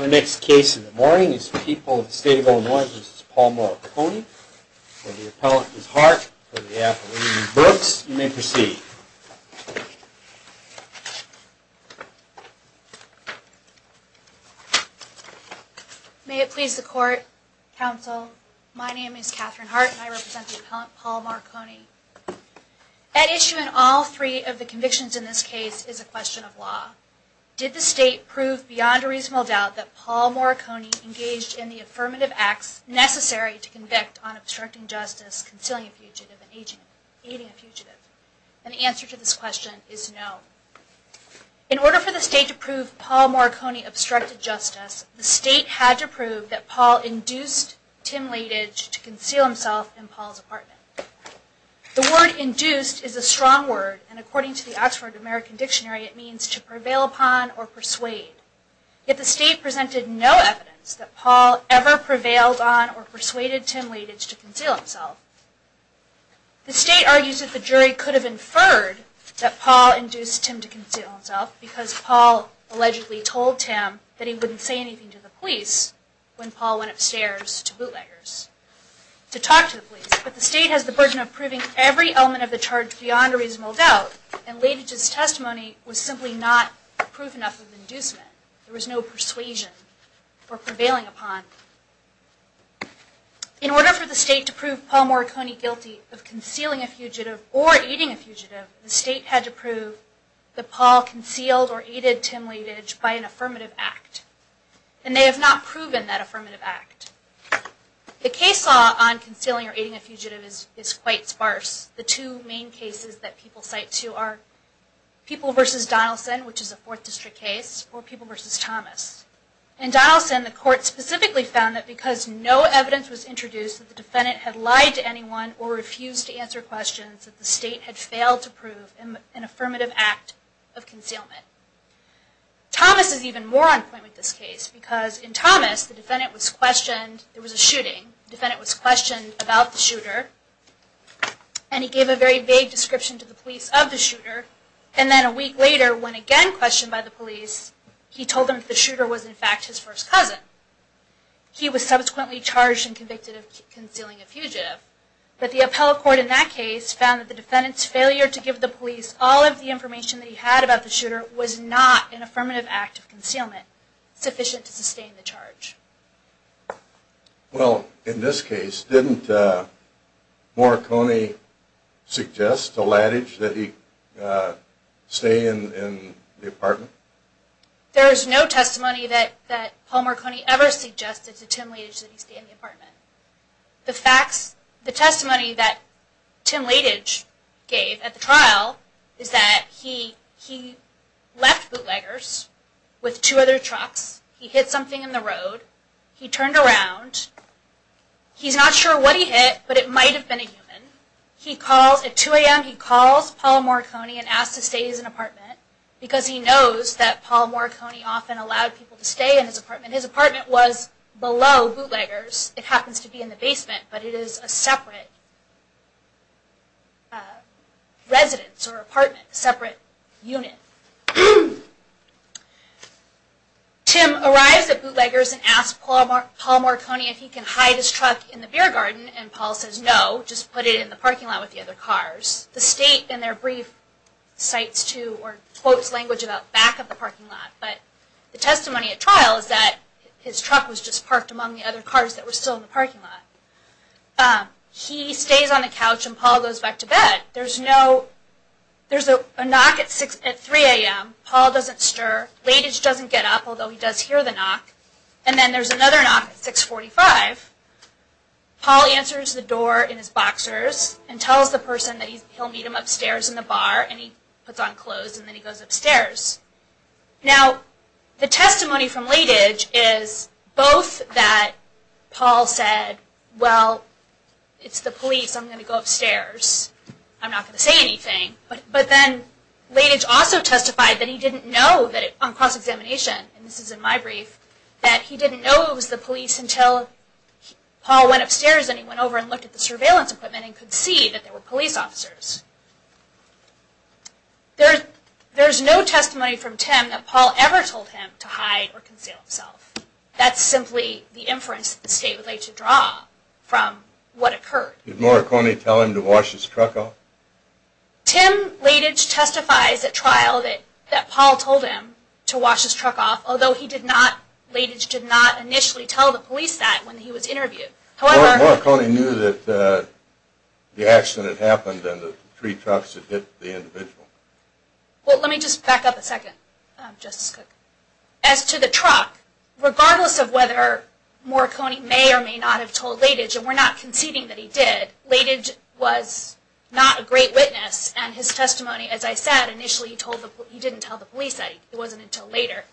Our next case in the morning is the people of the state of Illinois, which is Paul Moriconi. The appellant is Hart for the Appalachian Brooks. You may proceed. May it please the court, counsel, my name is Katherine Hart and I represent the appellant Paul Moriconi. At issue in all three of the convictions in this case is a question of law. Did the state prove beyond a reasonable doubt that Paul Moriconi engaged in the affirmative acts necessary to convict on obstructing justice, concealing a fugitive, and aiding a fugitive? And the answer to this question is no. In order for the state to prove Paul Moriconi obstructed justice, the state had to prove that Paul induced Tim Laididge to conceal himself in Paul's apartment. The word induced is a strong word and according to the Oxford American Dictionary it means to prevail upon or persuade. Yet the state presented no evidence that Paul ever prevailed on or persuaded Tim Laididge to conceal himself. The state argues that the jury could have inferred that Paul induced Tim to conceal himself because Paul allegedly told Tim that he wouldn't say anything to the police when Paul went upstairs to bootleggers to talk to the police. But the state has the burden of proving every element of the charge beyond a reasonable doubt and Laididge's testimony was simply not proof enough of inducement. There was no persuasion for prevailing upon. In order for the state to prove Paul Moriconi guilty of concealing a fugitive or aiding a fugitive, the state had to prove that Paul concealed or aided Tim Laididge by an affirmative act. And they have not proven that affirmative act. The case law on concealing or aiding a fugitive is quite sparse. The two main cases that people cite to are People v. Donaldson, which is a Fourth District case, or People v. Thomas. In Donaldson, the court specifically found that because no evidence was introduced that the defendant had lied to anyone or refused to answer questions, that the state had failed to prove an affirmative act of concealment. Thomas is even more on point with this case because in Thomas, there was a shooting. The defendant was questioned about the shooter. And he gave a very vague description to the police of the shooter. And then a week later, when again questioned by the police, he told them that the shooter was in fact his first cousin. He was subsequently charged and convicted of concealing a fugitive. But the appellate court in that case found that the defendant's failure to give the police all of the information that he had about the shooter was not an affirmative act of concealment sufficient to sustain the charge. Well, in this case, didn't Morricone suggest to Laddidge that he stay in the apartment? There is no testimony that Paul Morricone ever suggested to Tim Laddidge that he stay in the apartment. The testimony that Tim Laddidge gave at the trial is that he left bootleggers with two other trucks. He hit something in the road. He turned around. He's not sure what he hit, but it might have been a human. At 2 a.m., he calls Paul Morricone and asks to stay in his apartment because he knows that Paul Morricone often allowed people to stay in his apartment. His apartment was below bootleggers. It happens to be in the basement, but it is a separate residence or apartment, a separate unit. Tim arrives at bootleggers and asks Paul Morricone if he can hide his truck in the beer garden, and Paul says no, just put it in the parking lot with the other cars. The state in their brief quotes language about back of the parking lot, but the testimony at trial is that his truck was just parked among the other cars that were still in the parking lot. He stays on the couch, and Paul goes back to bed. There's a knock at 3 a.m. Paul doesn't stir. Leydig doesn't get up, although he does hear the knock, and then there's another knock at 6.45. Paul answers the door in his boxers and tells the person that he'll meet him upstairs in the bar, and he puts on clothes, and then he goes upstairs. Now, the testimony from Leydig is both that Paul said, well, it's the police, I'm going to go upstairs, I'm not going to say anything, but then Leydig also testified that he didn't know on cross-examination, and this is in my brief, that he didn't know it was the police until Paul went upstairs and he went over and looked at the surveillance equipment and could see that there were police officers. There's no testimony from Tim that Paul ever told him to hide or conceal himself. That's simply the inference that the state would like to draw from what occurred. Did Morricone tell him to wash his truck off? Tim Leydig testifies at trial that Paul told him to wash his truck off, although Leydig did not initially tell the police that when he was interviewed. Morricone knew that the accident happened and the three trucks had hit the individual. Well, let me just back up a second, Justice Cook. As to the truck, regardless of whether Morricone may or may not have told Leydig, and we're not conceding that he did, Leydig was not a great witness, and his testimony, as I said, initially he didn't tell the police, it wasn't until later.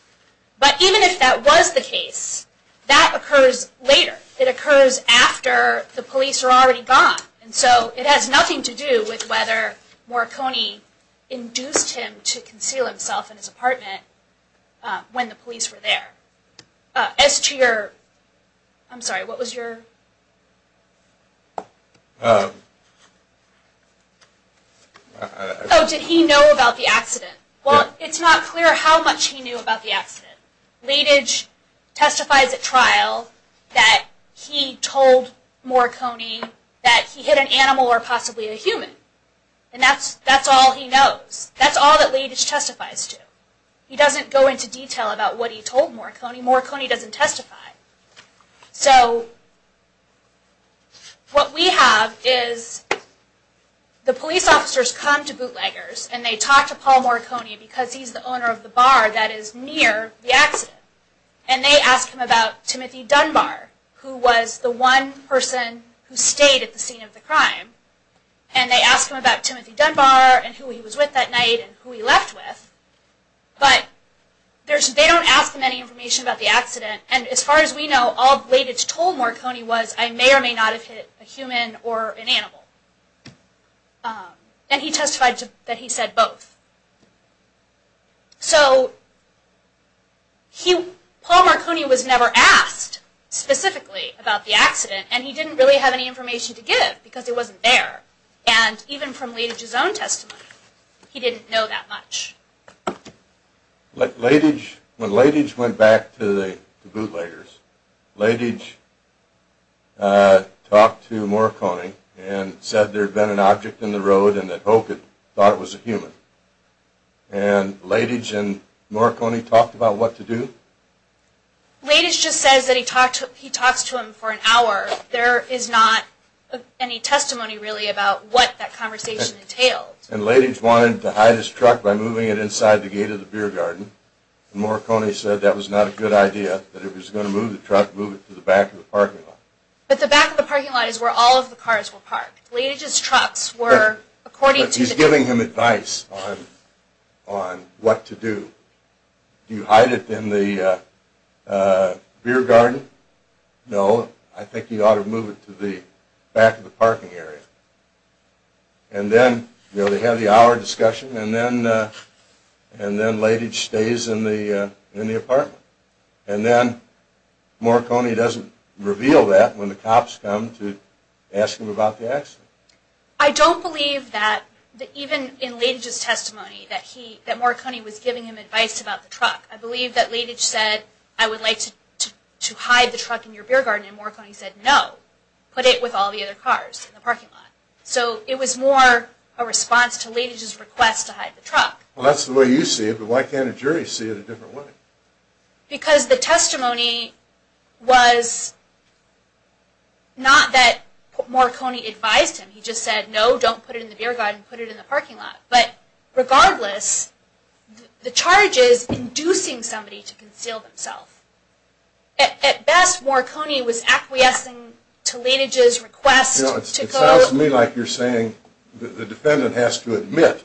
But even if that was the case, that occurs later. It occurs after the police are already gone, and so it has nothing to do with whether Morricone induced him to conceal himself in his apartment when the police were there. As to your, I'm sorry, what was your... Oh, did he know about the accident? Well, it's not clear how much he knew about the accident. Leydig testifies at trial that he told Morricone that he hit an animal or possibly a human. And that's all he knows. That's all that Leydig testifies to. He doesn't go into detail about what he told Morricone. Morricone doesn't testify. So, what we have is the police officers come to bootleggers and they talk to Paul Morricone because he's the owner of the bar that is near the accident. And they ask him about Timothy Dunbar, who was the one person who stayed at the scene of the crime. And they ask him about Timothy Dunbar and who he was with that night and who he left with. But they don't ask him any information about the accident. And as far as we know, all Leydig told Morricone was, I may or may not have hit a human or an animal. And he testified that he said both. So, Paul Morricone was never asked specifically about the accident and he didn't really have any information to give because he wasn't there. And even from Leydig's own testimony, he didn't know that much. When Leydig went back to the bootleggers, Leydig talked to Morricone and said there had been an object in the road and that Oak had thought it was a human. And Leydig and Morricone talked about what to do? Leydig just says that he talks to him for an hour. There is not any testimony really about what that conversation entailed. And Leydig wanted to hide his truck by moving it inside the gate of the beer garden. Morricone said that was not a good idea, that if he was going to move the truck, move it to the back of the parking lot. But the back of the parking lot is where all of the cars were parked. Leydig's trucks were according to the... But he's giving him advice on what to do. Do you hide it in the beer garden? No, I think you ought to move it to the back of the parking area. And then they have the hour discussion and then Leydig stays in the apartment. And then Morricone doesn't reveal that when the cops come to ask him about the accident. I don't believe that even in Leydig's testimony, that Morricone was giving him advice about the truck. I believe that Leydig said I would like to hide the truck in your beer garden and Morricone said no, put it with all the other cars in the parking lot. So it was more a response to Leydig's request to hide the truck. Well that's the way you see it, but why can't a jury see it a different way? Because the testimony was not that Morricone advised him. He just said no, don't put it in the beer garden, put it in the parking lot. But regardless, the charge is inducing somebody to conceal themselves. At best, Morricone was acquiescing to Leydig's request. It sounds to me like you're saying the defendant has to admit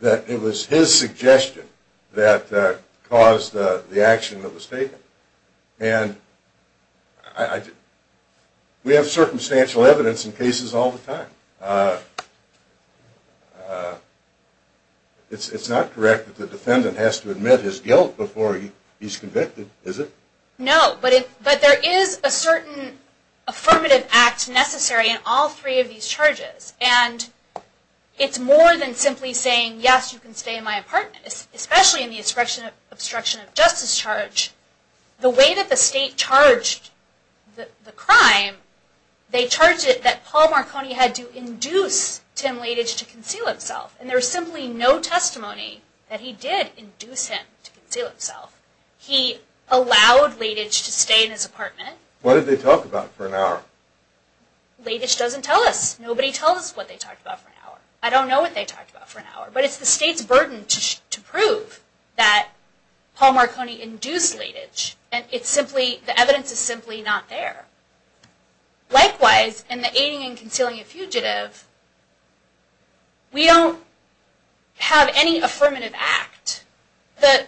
that it was his suggestion that caused the action that was taken. And we have circumstantial evidence in cases all the time. It's not correct that the defendant has to admit his guilt before he's convicted, is it? No, but there is a certain affirmative act necessary in all three of these charges. And it's more than simply saying yes, you can stay in my apartment, especially in the obstruction of justice charge. The way that the state charged the crime, they charged it that Paul Morricone had to induce Tim Leydig to conceal himself. And there is simply no testimony that he did induce him to conceal himself. He allowed Leydig to stay in his apartment. What did they talk about for an hour? Leydig doesn't tell us. Nobody tells us what they talked about for an hour. I don't know what they talked about for an hour, but it's the state's burden to prove that Paul Morricone induced Leydig. And the evidence is simply not there. Likewise, in the aiding and concealing a fugitive, we don't have any affirmative act. The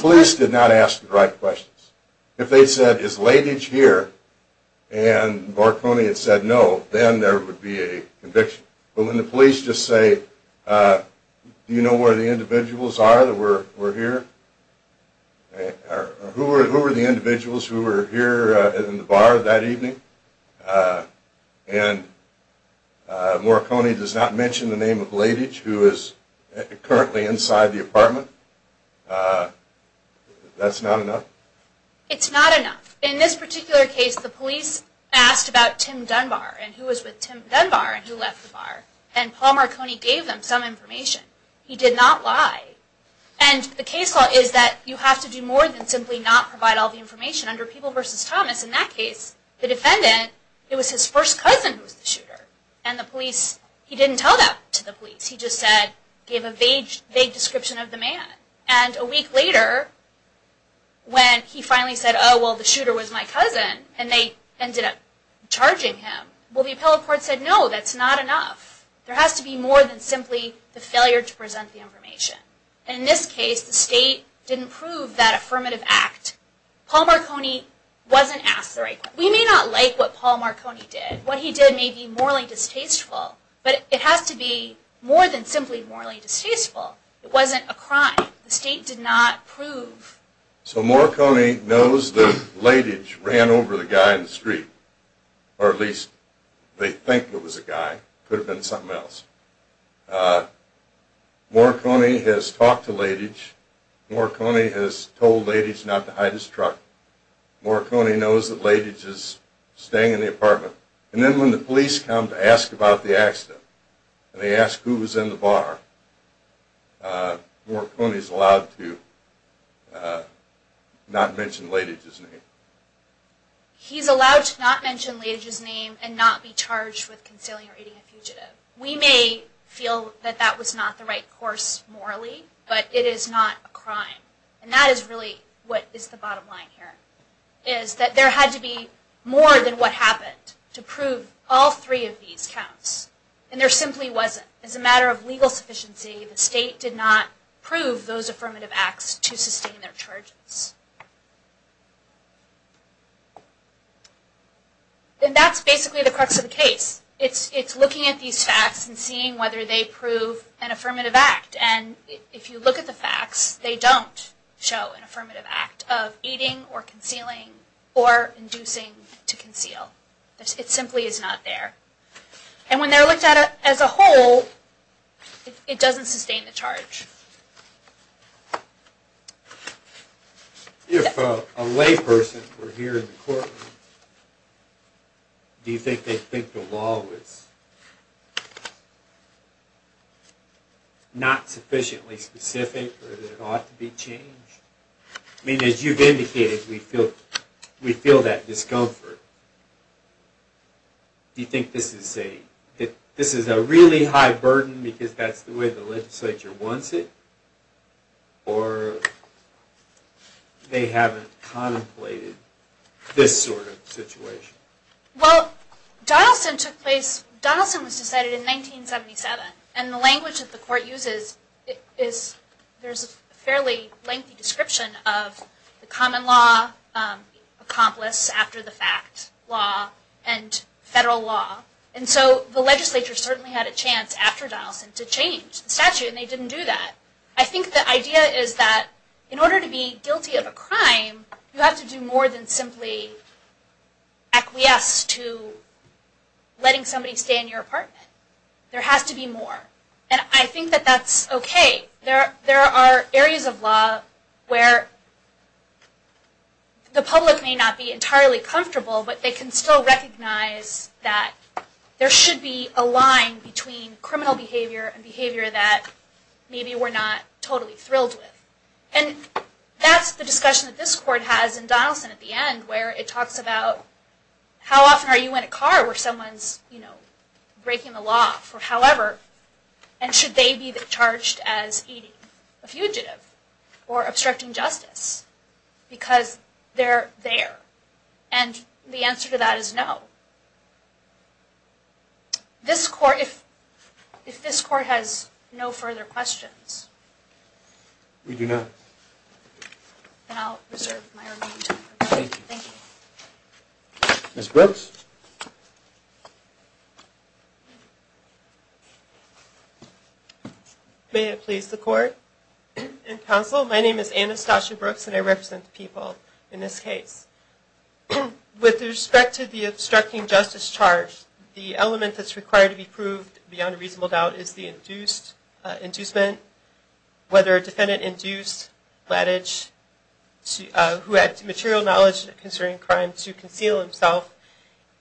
police did not ask the right questions. If they said, is Leydig here, and Morricone had said no, then there would be a conviction. But when the police just say, do you know where the individuals are that were here? Who were the individuals who were here in the bar that evening? And Morricone does not mention the name of Leydig, who is currently inside the apartment? That's not enough? It's not enough. In this particular case, the police asked about Tim Dunbar and who was with Tim Dunbar and who left the bar. And Paul Morricone gave them some information. He did not lie. And the case law is that you have to do more than simply not provide all the information. Under People v. Thomas, in that case, the defendant, it was his first cousin who was the shooter. And the police, he didn't tell that to the police. He just said, gave a vague description of the man. And a week later, when he finally said, oh, well, the shooter was my cousin, and they ended up charging him. Well, the appellate court said, no, that's not enough. There has to be more than simply the failure to present the information. And in this case, the state didn't prove that affirmative act. Paul Morricone wasn't asked the right question. We may not like what Paul Morricone did. What he did may be morally distasteful. But it has to be more than simply morally distasteful. It wasn't a crime. The state did not prove. So Morricone knows that Latige ran over the guy in the street, or at least they think it was a guy. It could have been something else. Morricone has talked to Latige. Morricone has told Latige not to hide his truck. Morricone knows that Latige is staying in the apartment. And then when the police come to ask about the accident, and they ask who was in the bar, Morricone is allowed to not mention Latige's name. He's allowed to not mention Latige's name and not be charged with conciliating a fugitive. We may feel that that was not the right course morally, but it is not a crime. And that is really what is the bottom line here, is that there had to be more than what happened to prove all three of these counts. And there simply wasn't. It's a matter of legal sufficiency. The state did not prove those affirmative acts to sustain their charges. And that's basically the crux of the case. It's looking at these facts and seeing whether they prove an affirmative act. And if you look at the facts, they don't show an affirmative act of aiding or concealing or inducing to conceal. It simply is not there. And when they're looked at as a whole, it doesn't sustain the charge. If a lay person were here in the courtroom, do you think they'd think the law was not sufficiently specific or that it ought to be changed? I mean, as you've indicated, we feel that discomfort. Do you think this is a really high burden because that's the way the legislature wants it? Or they haven't contemplated this sort of situation? Well, Donaldson was decided in 1977. And the language that the court uses is, there's a fairly lengthy description of the common law, accomplice after the fact law, and federal law. And so the legislature certainly had a chance after Donaldson to change the statute, and they didn't do that. I think the idea is that in order to be guilty of a crime, you have to do more than simply acquiesce to letting somebody stay in your apartment. There has to be more. And I think that that's okay. There are areas of law where the public may not be entirely comfortable, but they can still recognize that there should be a line between criminal behavior and behavior that maybe we're not totally thrilled with. And that's the discussion that this court has in Donaldson at the end, where it talks about how often are you in a car where someone's breaking the law. However, and should they be charged as eating a fugitive or obstructing justice? Because they're there. And the answer to that is no. This court, if this court has no further questions. We do not. Then I'll reserve my remaining time. Thank you. Thank you. Ms. Brooks? May it please the court and counsel, my name is Anastasia Brooks, and I represent the people in this case. With respect to the obstructing justice charge, the element that's required to be proved beyond a reasonable doubt is the inducement, whether a defendant induced Lattage, who had material knowledge concerning crime, to conceal himself.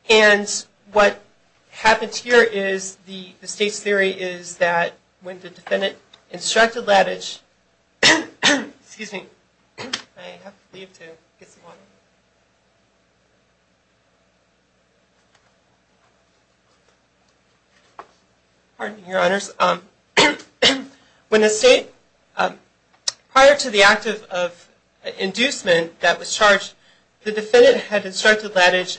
And what happens here is the state's theory is that when the defendant instructed Lattage, excuse me, I have to leave to get some water. Pardon me, Your Honors. When the state, prior to the act of inducement that was charged, the defendant had instructed Lattage,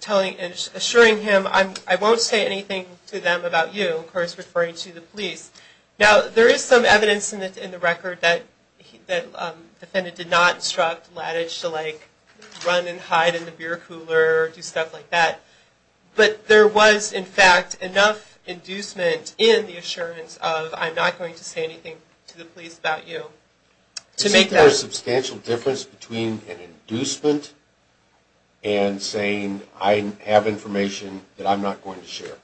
telling, assuring him, I won't say anything to them about you, of course, referring to the police. Now, there is some evidence in the record that the defendant did not instruct Lattage to, like, run and hide in the beer cooler or do stuff like that. But there was, in fact, enough inducement in the assurance of, I'm not going to say anything to the police about you. Isn't there a substantial difference between an inducement and saying, I have information that I'm not going to share?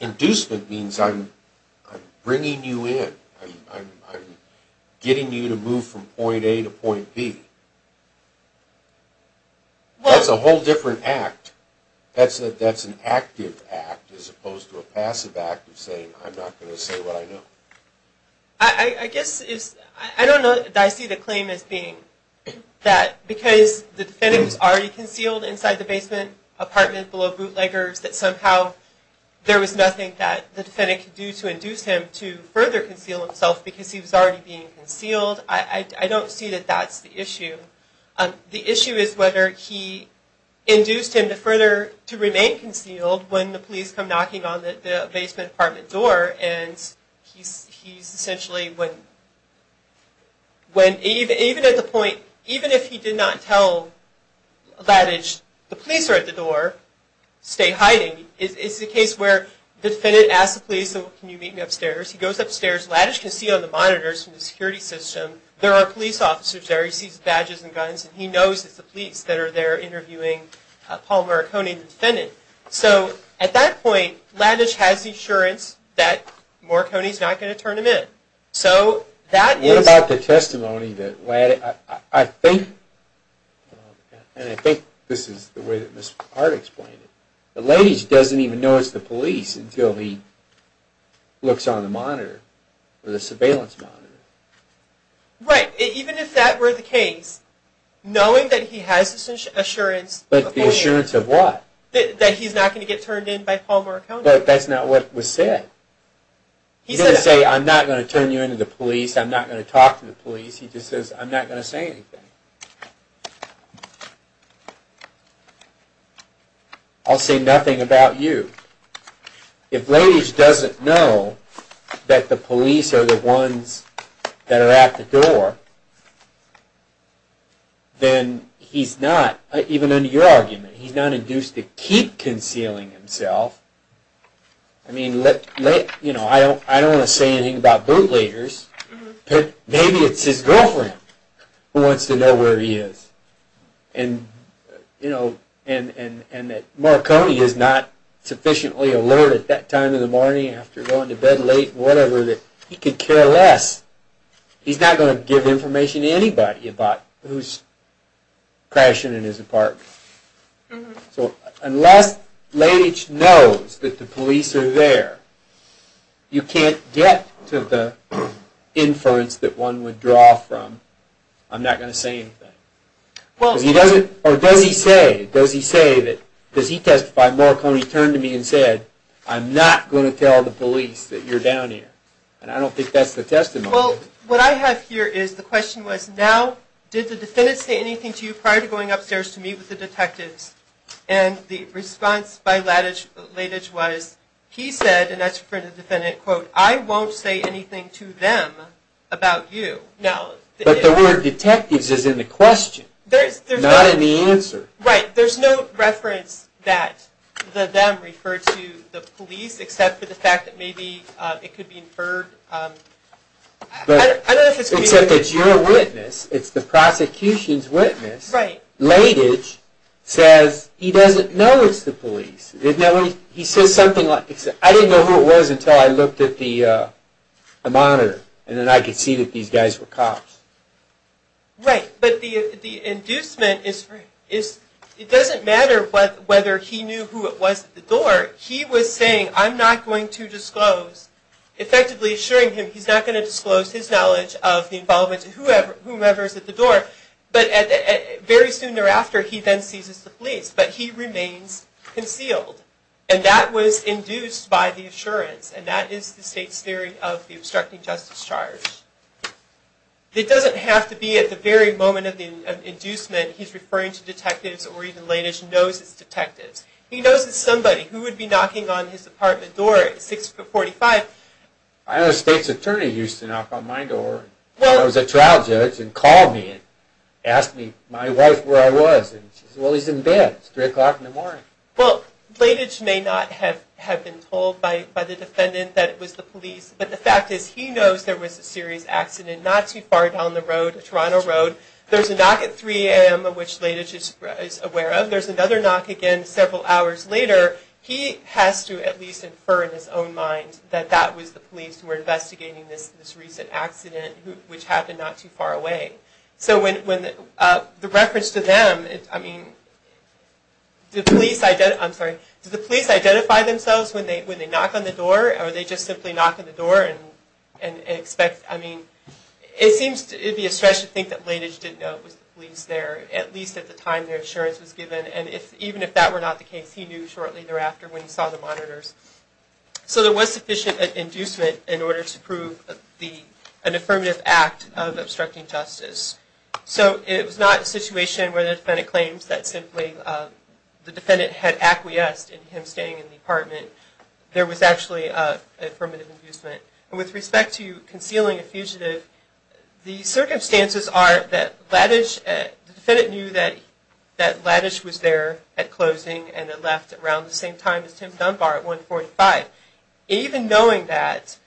Inducement means I'm bringing you in. I'm getting you to move from point A to point B. That's a whole different act. That's an active act as opposed to a passive act of saying, I'm not going to say what I know. I guess it's, I don't know that I see the claim as being that because the defendant was already concealed inside the basement apartment below bootleggers, that somehow there was nothing that the defendant could do to induce him to further conceal himself because he was already being concealed. I don't see that that's the issue. The issue is whether he induced him to further, to remain concealed when the police come knocking on the basement apartment door and he's essentially when, even at the point, even if he did not tell Lattage, the police are at the door, stay hiding. It's the case where the defendant asks the police, can you meet me upstairs? He goes upstairs, Lattage can see on the monitors from the security system, there are police officers there, he sees badges and guns, and he knows it's the police that are there interviewing Paul Marconi, the defendant. So at that point, Lattage has the assurance that Marconi's not going to turn him in. So that is... What about the testimony that Lattage, I think, and I think this is the way that Ms. Hart explained it, Lattage doesn't even know it's the police until he looks on the monitor, the surveillance monitor. Right, even if that were the case, knowing that he has this assurance... But the assurance of what? That he's not going to get turned in by Paul Marconi. But that's not what was said. He didn't say, I'm not going to turn you in to the police, I'm not going to talk to the police. He just says, I'm not going to say anything. I'll say nothing about you. If Lattage doesn't know that the police are the ones that are at the door, then he's not, even under your argument, he's not induced to keep concealing himself. I mean, I don't want to say anything about bootleggers, but maybe it's his girlfriend who wants to know where he is. And that Marconi is not sufficiently alert at that time of the morning after going to bed late and whatever that he could care less. He's not going to give information to anybody about who's crashing in his apartment. So unless Lattage knows that the police are there, you can't get to the inference that one would draw from, I'm not going to say anything. Or does he say, does he testify, Marconi turned to me and said, I'm not going to tell the police that you're down here. And I don't think that's the testimony. Well, what I have here is the question was, now did the defendant say anything to you prior to going upstairs to meet with the detectives? And the response by Lattage was, he said, and that's for the defendant, quote, I won't say anything to them about you. But the word detectives is in the question, not in the answer. Right. There's no reference that the them referred to the police, except for the fact that maybe it could be inferred. Except that you're a witness, it's the prosecution's witness. Right. But Lattage says he doesn't know it's the police. He says something like, I didn't know who it was until I looked at the monitor, and then I could see that these guys were cops. Right. But the inducement is, it doesn't matter whether he knew who it was at the door, he was saying, I'm not going to disclose, effectively assuring him he's not going to disclose his knowledge of the involvement of whomever's at the door. But very soon thereafter, he then seizes the police. But he remains concealed. And that was induced by the assurance, and that is the state's theory of the obstructing justice charge. It doesn't have to be at the very moment of the inducement, he's referring to detectives, or even Lattage knows it's detectives. He knows it's somebody who would be knocking on his apartment door at 645. I had a state's attorney used to knock on my door. I was a trial judge, and he called me and asked me, my wife, where I was. Well, he's in bed, it's 3 o'clock in the morning. Well, Lattage may not have been told by the defendant that it was the police, but the fact is he knows there was a serious accident not too far down the road, Toronto Road. There's a knock at 3 a.m. which Lattage is aware of. There's another knock again several hours later. There were detectives who were investigating this recent accident, which happened not too far away. So the reference to them, I mean, did the police identify themselves when they knock on the door, or did they just simply knock on the door and expect, I mean, it would be a stretch to think that Lattage didn't know it was the police there, at least at the time their assurance was given. And even if that were not the case, he knew shortly thereafter when he saw the monitors. So there was sufficient inducement in order to prove an affirmative act of obstructing justice. So it was not a situation where the defendant claims that simply the defendant had acquiesced in him staying in the apartment. There was actually affirmative inducement. With respect to concealing a fugitive, the circumstances are that Lattage, around the same time as Tim Dunbar at 1.45. Even knowing that,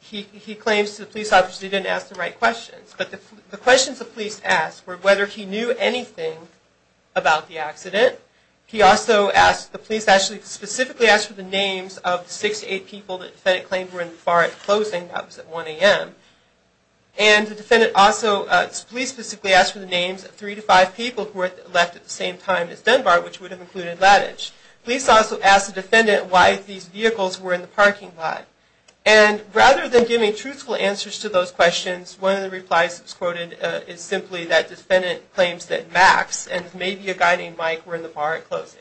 he claims to the police officers he didn't ask the right questions. But the questions the police asked were whether he knew anything about the accident. He also asked, the police actually specifically asked for the names of six to eight people that the defendant claimed were in the bar at closing, that was at 1 a.m. And the defendant also, the police specifically asked for the names of three to five people who had left at the same time as Dunbar, which would have included Lattage. Police also asked the defendant why these vehicles were in the parking lot. And rather than giving truthful answers to those questions, one of the replies that was quoted is simply that defendant claims that Max and maybe a guy named Mike were in the bar at closing.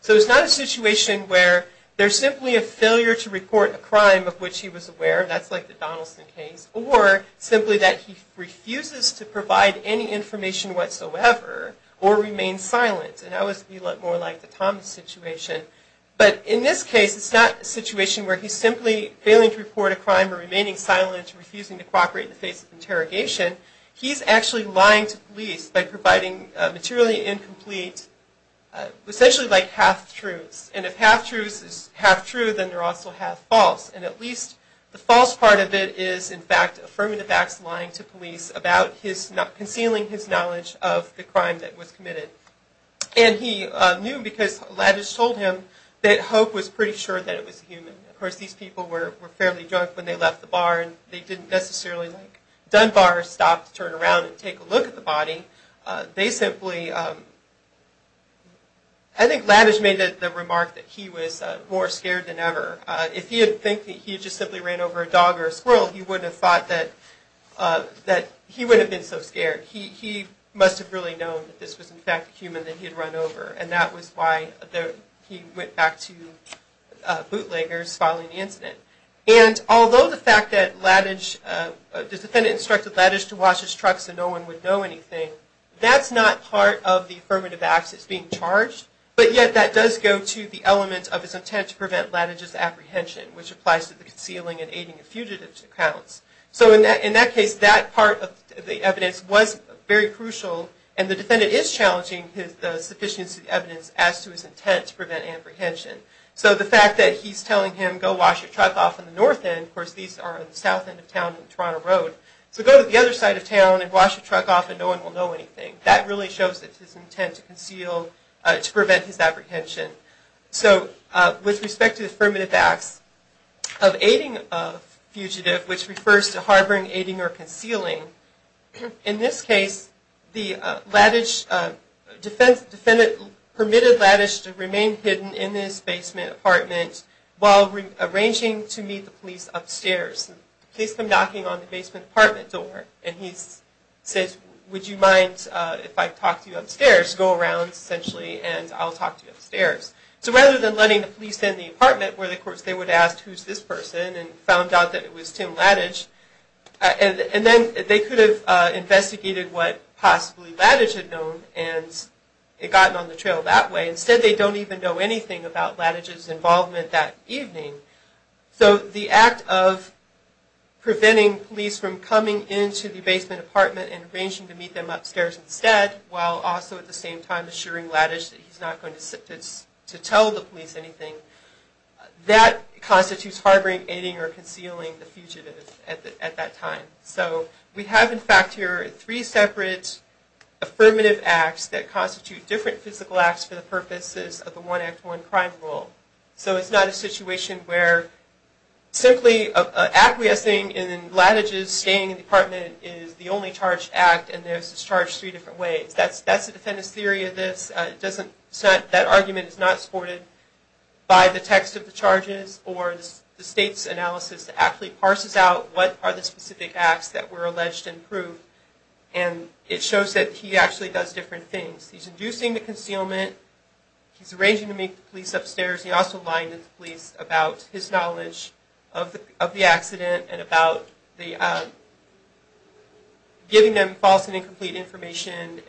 So it's not a situation where there's simply a failure to report a crime of which he was aware, that's like the Donaldson case, or simply that he refuses to provide any information whatsoever or remain silent, and that would be more like the Thomas situation. But in this case, it's not a situation where he's simply failing to report a crime or remaining silent or refusing to cooperate in the face of interrogation. He's actually lying to police by providing materially incomplete, essentially like half-truths. And if half-truths is half-true, then they're also half-false. And at least the false part of it is, in fact, affirming that Max is lying to police about concealing his knowledge of the crime that was committed. And he knew because Lavish told him that Hope was pretty sure that it was a human. Of course, these people were fairly drunk when they left the bar, and they didn't necessarily like Dunbar stop to turn around and take a look at the body. They simply... I think Lavish made the remark that he was more scared than ever. If he had think that he had just simply ran over a dog or a squirrel, he would have thought that he would have been so scared. He must have really known that this was, in fact, a human that he had run over, and that was why he went back to bootleggers following the incident. And although the fact that Lavish... the defendant instructed Lavish to watch his truck so no one would know anything, that's not part of the affirmative acts that's being charged, but yet that does go to the element of his intent to prevent Lavish's apprehension, which applies to the concealing and aiding of fugitives accounts. So in that case, that part of the evidence was very crucial, and the defendant is challenging the sufficiency of the evidence as to his intent to prevent apprehension. So the fact that he's telling him, go wash your truck off on the north end, of course these are on the south end of town on Toronto Road, so go to the other side of town and wash your truck off and no one will know anything. That really shows his intent to conceal, to prevent his apprehension. So with respect to the affirmative acts of aiding a fugitive, which refers to harboring, aiding, or concealing, in this case the defendant permitted Lavish to remain hidden in his basement apartment while arranging to meet the police upstairs. The police come knocking on the basement apartment door, and he says, would you mind if I talk to you upstairs? Go around, essentially, and I'll talk to you upstairs. So rather than letting the police in the apartment, where of course they would ask who's this person, and found out that it was Tim Lavish, and then they could have investigated what possibly Lavish had known, and it got on the trail that way. Instead they don't even know anything about Lavish's involvement that evening. So the act of preventing police from coming into the basement apartment and arranging to meet them upstairs instead, while also at the same time assuring Lavish that he's not going to tell the police anything, that constitutes harboring, aiding, or concealing the fugitive at that time. So we have in fact here three separate affirmative acts that constitute different physical acts for the purposes of the One Act One Crime Rule. So it's not a situation where simply acquiescing in Lavish's staying in the apartment is the only charged act, and this is charged three different ways. That's the defendant's theory of this. That argument is not supported by the text of the charges, or the state's analysis actually parses out what are the specific acts that were alleged and proved, and it shows that he actually does different things. He's inducing the concealment. He's arranging to meet the police upstairs. He also lied to the police about his knowledge of the accident and about giving them false and incomplete information,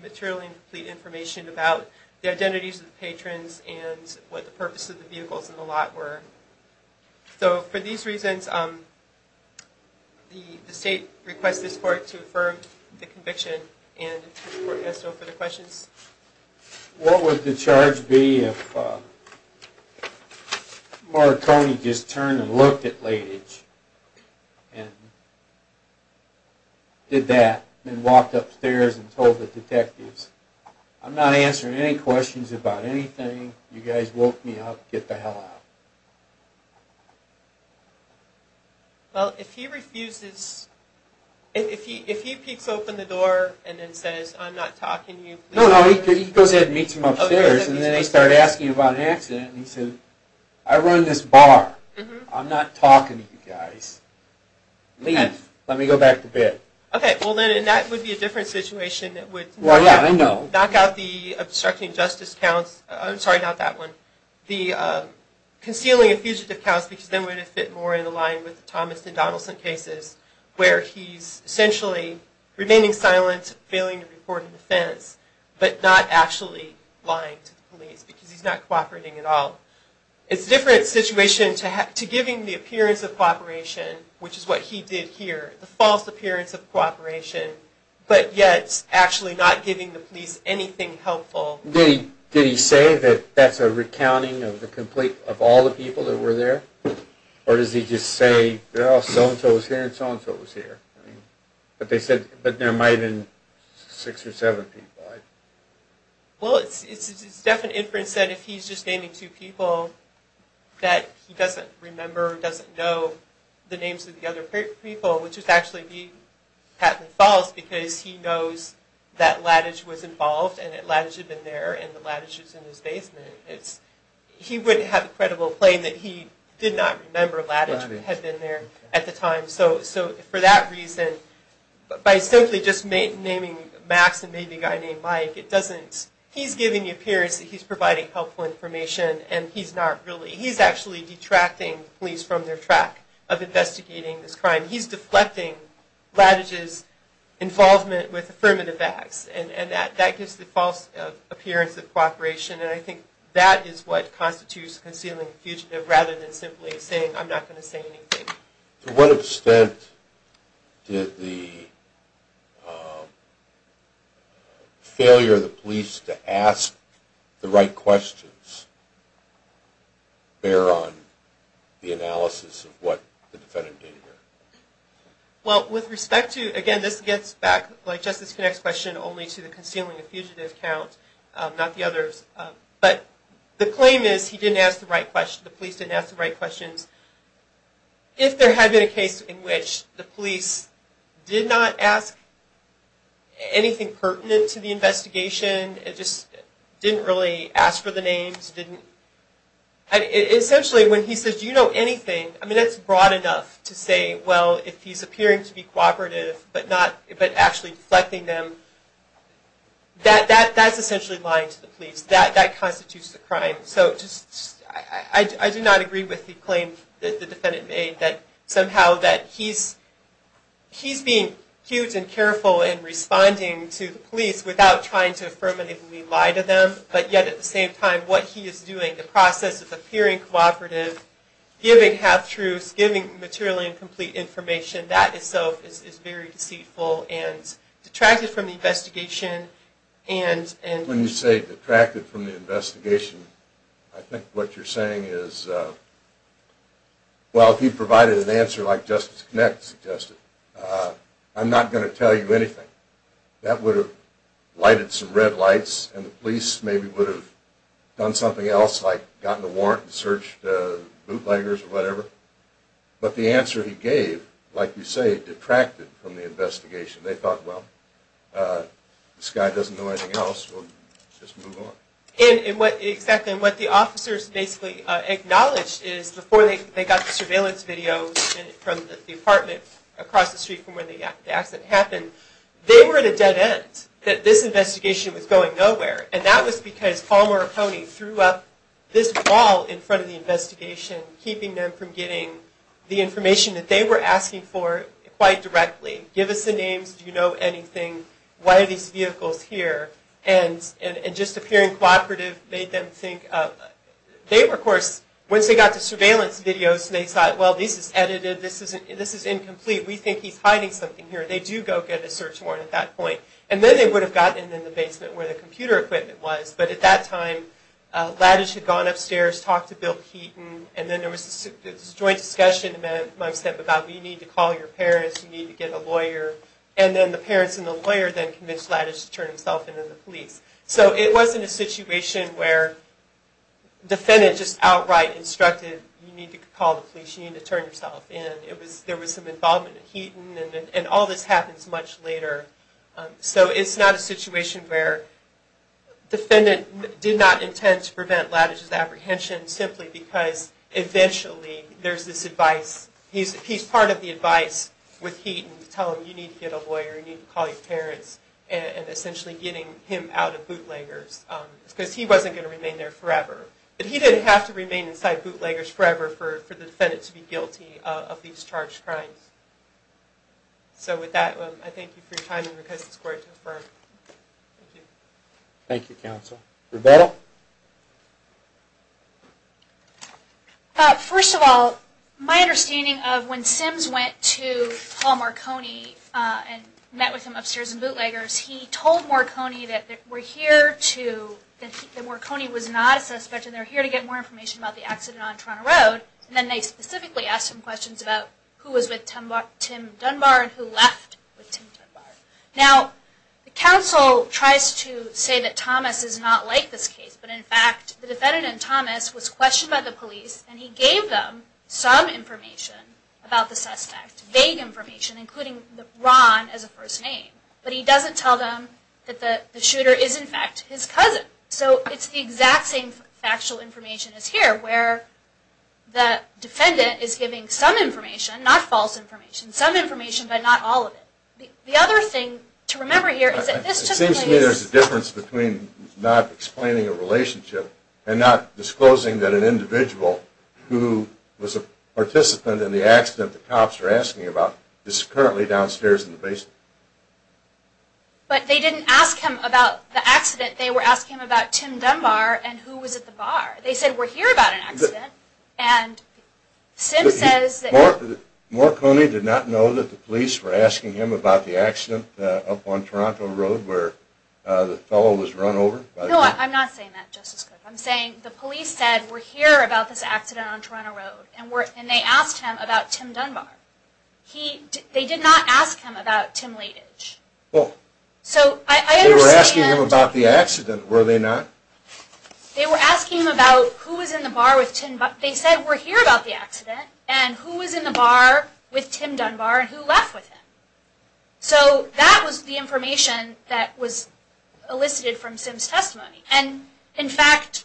materially incomplete information about the identities of the patrons and what the purpose of the vehicles in the lot were. So for these reasons, the state requests this court to affirm the conviction and the court has no further questions. What would the charge be if Marconi just turned and looked at Lavish and did that and walked upstairs and told the detectives, I'm not answering any questions about anything. You guys woke me up. Get the hell out. Well, if he refuses, if he peeks open the door and then says, I'm not talking to you. No, no, he goes ahead and meets him upstairs, and then they start asking about an accident, and he says, I run this bar. I'm not talking to you guys. Leave. Let me go back to bed. Okay, well then that would be a different situation. Well, yeah, I know. Knock out the obstruction of justice counts. I'm sorry, not that one. The concealing of fugitive counts, because then it would fit more in line with the Thomas and Donaldson cases, where he's essentially remaining silent, failing to report an offense, but not actually lying to the police because he's not cooperating at all. It's a different situation to giving the appearance of cooperation, which is what he did here, the false appearance of cooperation, but yet actually not giving the police anything helpful. Did he say that that's a recounting of all the people that were there, or does he just say, well, so-and-so was here and so-and-so was here, but there might have been six or seven people. Well, it's definitely inference that if he's just naming two people that he doesn't remember or doesn't know the names of the other people, which would actually be Patlyn Falls, because he knows that Laddidge was involved and that Laddidge had been there and that Laddidge was in his basement. He wouldn't have a credible claim that he did not remember Laddidge had been there at the time. So for that reason, by simply just naming Max and maybe a guy named Mike, he's giving the appearance that he's providing helpful information and he's actually detracting police from their track of investigating this crime. He's deflecting Laddidge's involvement with affirmative acts, and that gives the false appearance of cooperation. And I think that is what constitutes concealing a fugitive rather than simply saying, I'm not going to say anything. To what extent did the failure of the police to ask the right questions bear on the analysis of what the defendant did here? Well, with respect to, again, this gets back, like Justice Connick's question, only to the concealing a fugitive count, not the others. But the claim is he didn't ask the right questions, the police didn't ask the right questions. If there had been a case in which the police did not ask anything pertinent to the investigation, just didn't really ask for the names, essentially when he says, do you know anything, I mean that's broad enough to say, well, if he's appearing to be cooperative but actually deflecting them, that's essentially lying to the police. That constitutes a crime. So I do not agree with the claim that the defendant made that somehow that he's being huge and careful in responding to the police without trying to affirmatively lie to them, but yet at the same time, what he is doing, the process of appearing cooperative, giving half-truths, giving materially incomplete information, that itself is very deceitful and detracted from the investigation. When you say detracted from the investigation, I think what you're saying is, well, if he provided an answer like Justice Connick suggested, I'm not going to tell you anything. That would have lighted some red lights and the police maybe would have done something else like gotten a warrant and searched bootleggers or whatever. But the answer he gave, like you say, detracted from the investigation. They thought, well, this guy doesn't know anything else, we'll just move on. And what the officers basically acknowledged is, before they got the surveillance videos from the apartment across the street from where the accident happened, they were at a dead end, that this investigation was going nowhere. And that was because Palmer O'Coney threw up this wall in front of the investigation, keeping them from getting the information that they were asking for quite directly. Give us the names, do you know anything, why are these vehicles here? And just appearing cooperative made them think. They, of course, once they got the surveillance videos, they thought, well, this is edited, this is incomplete, we think he's hiding something here. They do go get a search warrant at that point. And then they would have gotten in the basement where the computer equipment was. But at that time, Lattice had gone upstairs, talked to Bill Keaton, and then there was this joint discussion amongst them about, you need to call your parents, you need to get a lawyer. And then the parents and the lawyer then convinced Lattice to turn himself in to the police. So it wasn't a situation where the defendant just outright instructed, you need to call the police, you need to turn yourself in. There was some involvement of Keaton, and all this happens much later. So it's not a situation where the defendant did not intend to prevent Lattice's apprehension, simply because eventually there's this advice. He's part of the advice with Keaton to tell him, you need to get a lawyer, you need to call your parents, and essentially getting him out of bootleggers. Because he wasn't going to remain there forever. But he didn't have to remain inside bootleggers forever for the defendant to be guilty of these charged crimes. So with that, I thank you for your time and request this court to affirm. Thank you. Thank you, counsel. Rebecca? First of all, my understanding of when Sims went to Paul Marconi and met with him upstairs in bootleggers, he told Marconi that Marconi was not a suspect and they're here to get more information about the accident on Toronto Road. And then they specifically asked him questions about who was with Tim Dunbar and who left with Tim Dunbar. Now, the counsel tries to say that Thomas is not like this case, but in fact, the defendant and Thomas was questioned by the police and he gave them some information about the suspect. Vague information, including Ron as a first name. But he doesn't tell them that the shooter is, in fact, his cousin. So it's the exact same factual information as here, where the defendant is giving some information, not false information, some information, but not all of it. The other thing to remember here is that this took place... It seems to me there's a difference between not explaining a relationship and not disclosing that an individual who was a participant in the accident the cops are asking about is currently downstairs in the basement. But they didn't ask him about the accident. They were asking about Tim Dunbar and who was at the bar. They said, we're here about an accident. And Sim says that... Marconi did not know that the police were asking him about the accident up on Toronto Road where the fellow was run over? No, I'm not saying that, Justice Cook. I'm saying the police said, we're here about this accident on Toronto Road. And they asked him about Tim Dunbar. They did not ask him about Tim Leitich. They were asking him about the accident, were they not? They were asking him about who was in the bar with Tim Dunbar. They said, we're here about the accident. And who was in the bar with Tim Dunbar and who left with him? So that was the information that was elicited from Sim's testimony. And, in fact,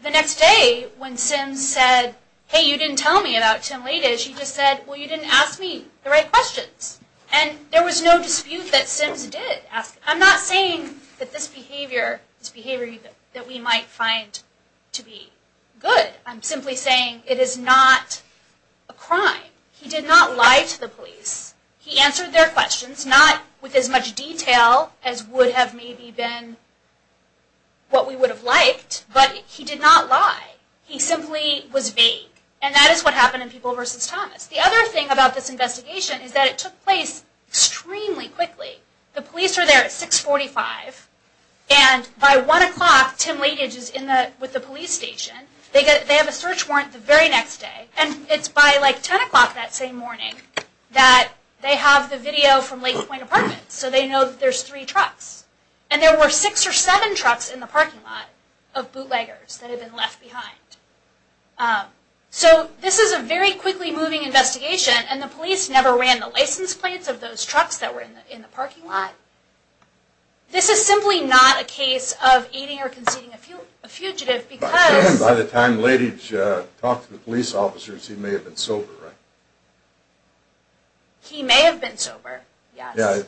the next day when Sim said, hey, you didn't tell me about Tim Leitich, he just said, well, you didn't ask me the right questions. And there was no dispute that Sim did ask him. I'm not saying that this behavior is behavior that we might find to be good. I'm simply saying it is not a crime. He did not lie to the police. He answered their questions, not with as much detail as would have maybe been what we would have liked. But he did not lie. He simply was vague. And that is what happened in People v. Thomas. The other thing about this investigation is that it took place extremely quickly. The police are there at 645. And by 1 o'clock, Tim Leitich is with the police station. They have a search warrant the very next day. And it's by, like, 10 o'clock that same morning that they have the video from Lake Point Apartments. So they know that there's three trucks. And there were six or seven trucks in the parking lot of bootleggers that had been left behind. So this is a very quickly moving investigation. And the police never ran the license plates of those trucks that were in the parking lot. This is simply not a case of aiding or conceding a fugitive. By the time Leitich talked to the police officers, he may have been sober, right? He may have been sober, yes.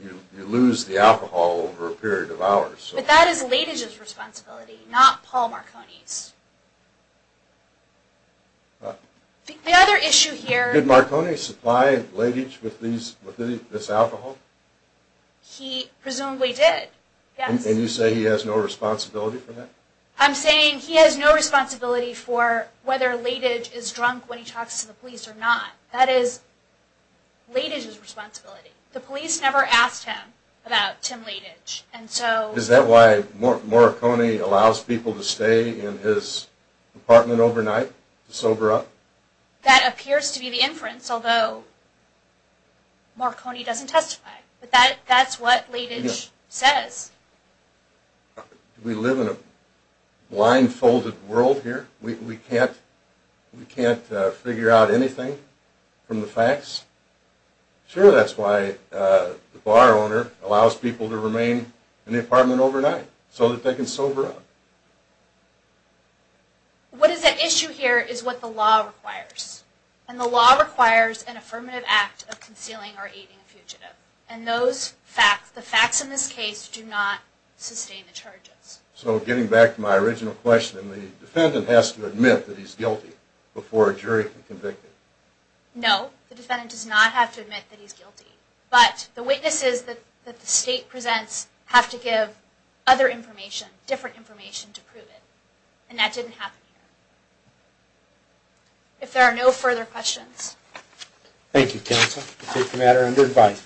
You lose the alcohol over a period of hours. But that is Leitich's responsibility, not Paul Marconi's. The other issue here. Did Marconi supply Leitich with this alcohol? He presumably did. And you say he has no responsibility for that? I'm saying he has no responsibility for whether Leitich is drunk when he talks to the police or not. That is Leitich's responsibility. The police never asked him about Tim Leitich. Is that why Marconi allows people to stay in his apartment overnight to sober up? That appears to be the inference, although Marconi doesn't testify. But that's what Leitich says. Do we live in a blindfolded world here? We can't figure out anything from the facts? Sure, that's why the bar owner allows people to remain in the apartment overnight so that they can sober up. What is at issue here is what the law requires. And the law requires an affirmative act of concealing or aiding a fugitive. And the facts in this case do not sustain the charges. So getting back to my original question, the defendant has to admit that he's guilty before a jury can convict him? No, the defendant does not have to admit that he's guilty. But the witnesses that the state presents have to give other information, different information, to prove it. And that didn't happen here. If there are no further questions. Thank you, counsel. I take the matter under advice.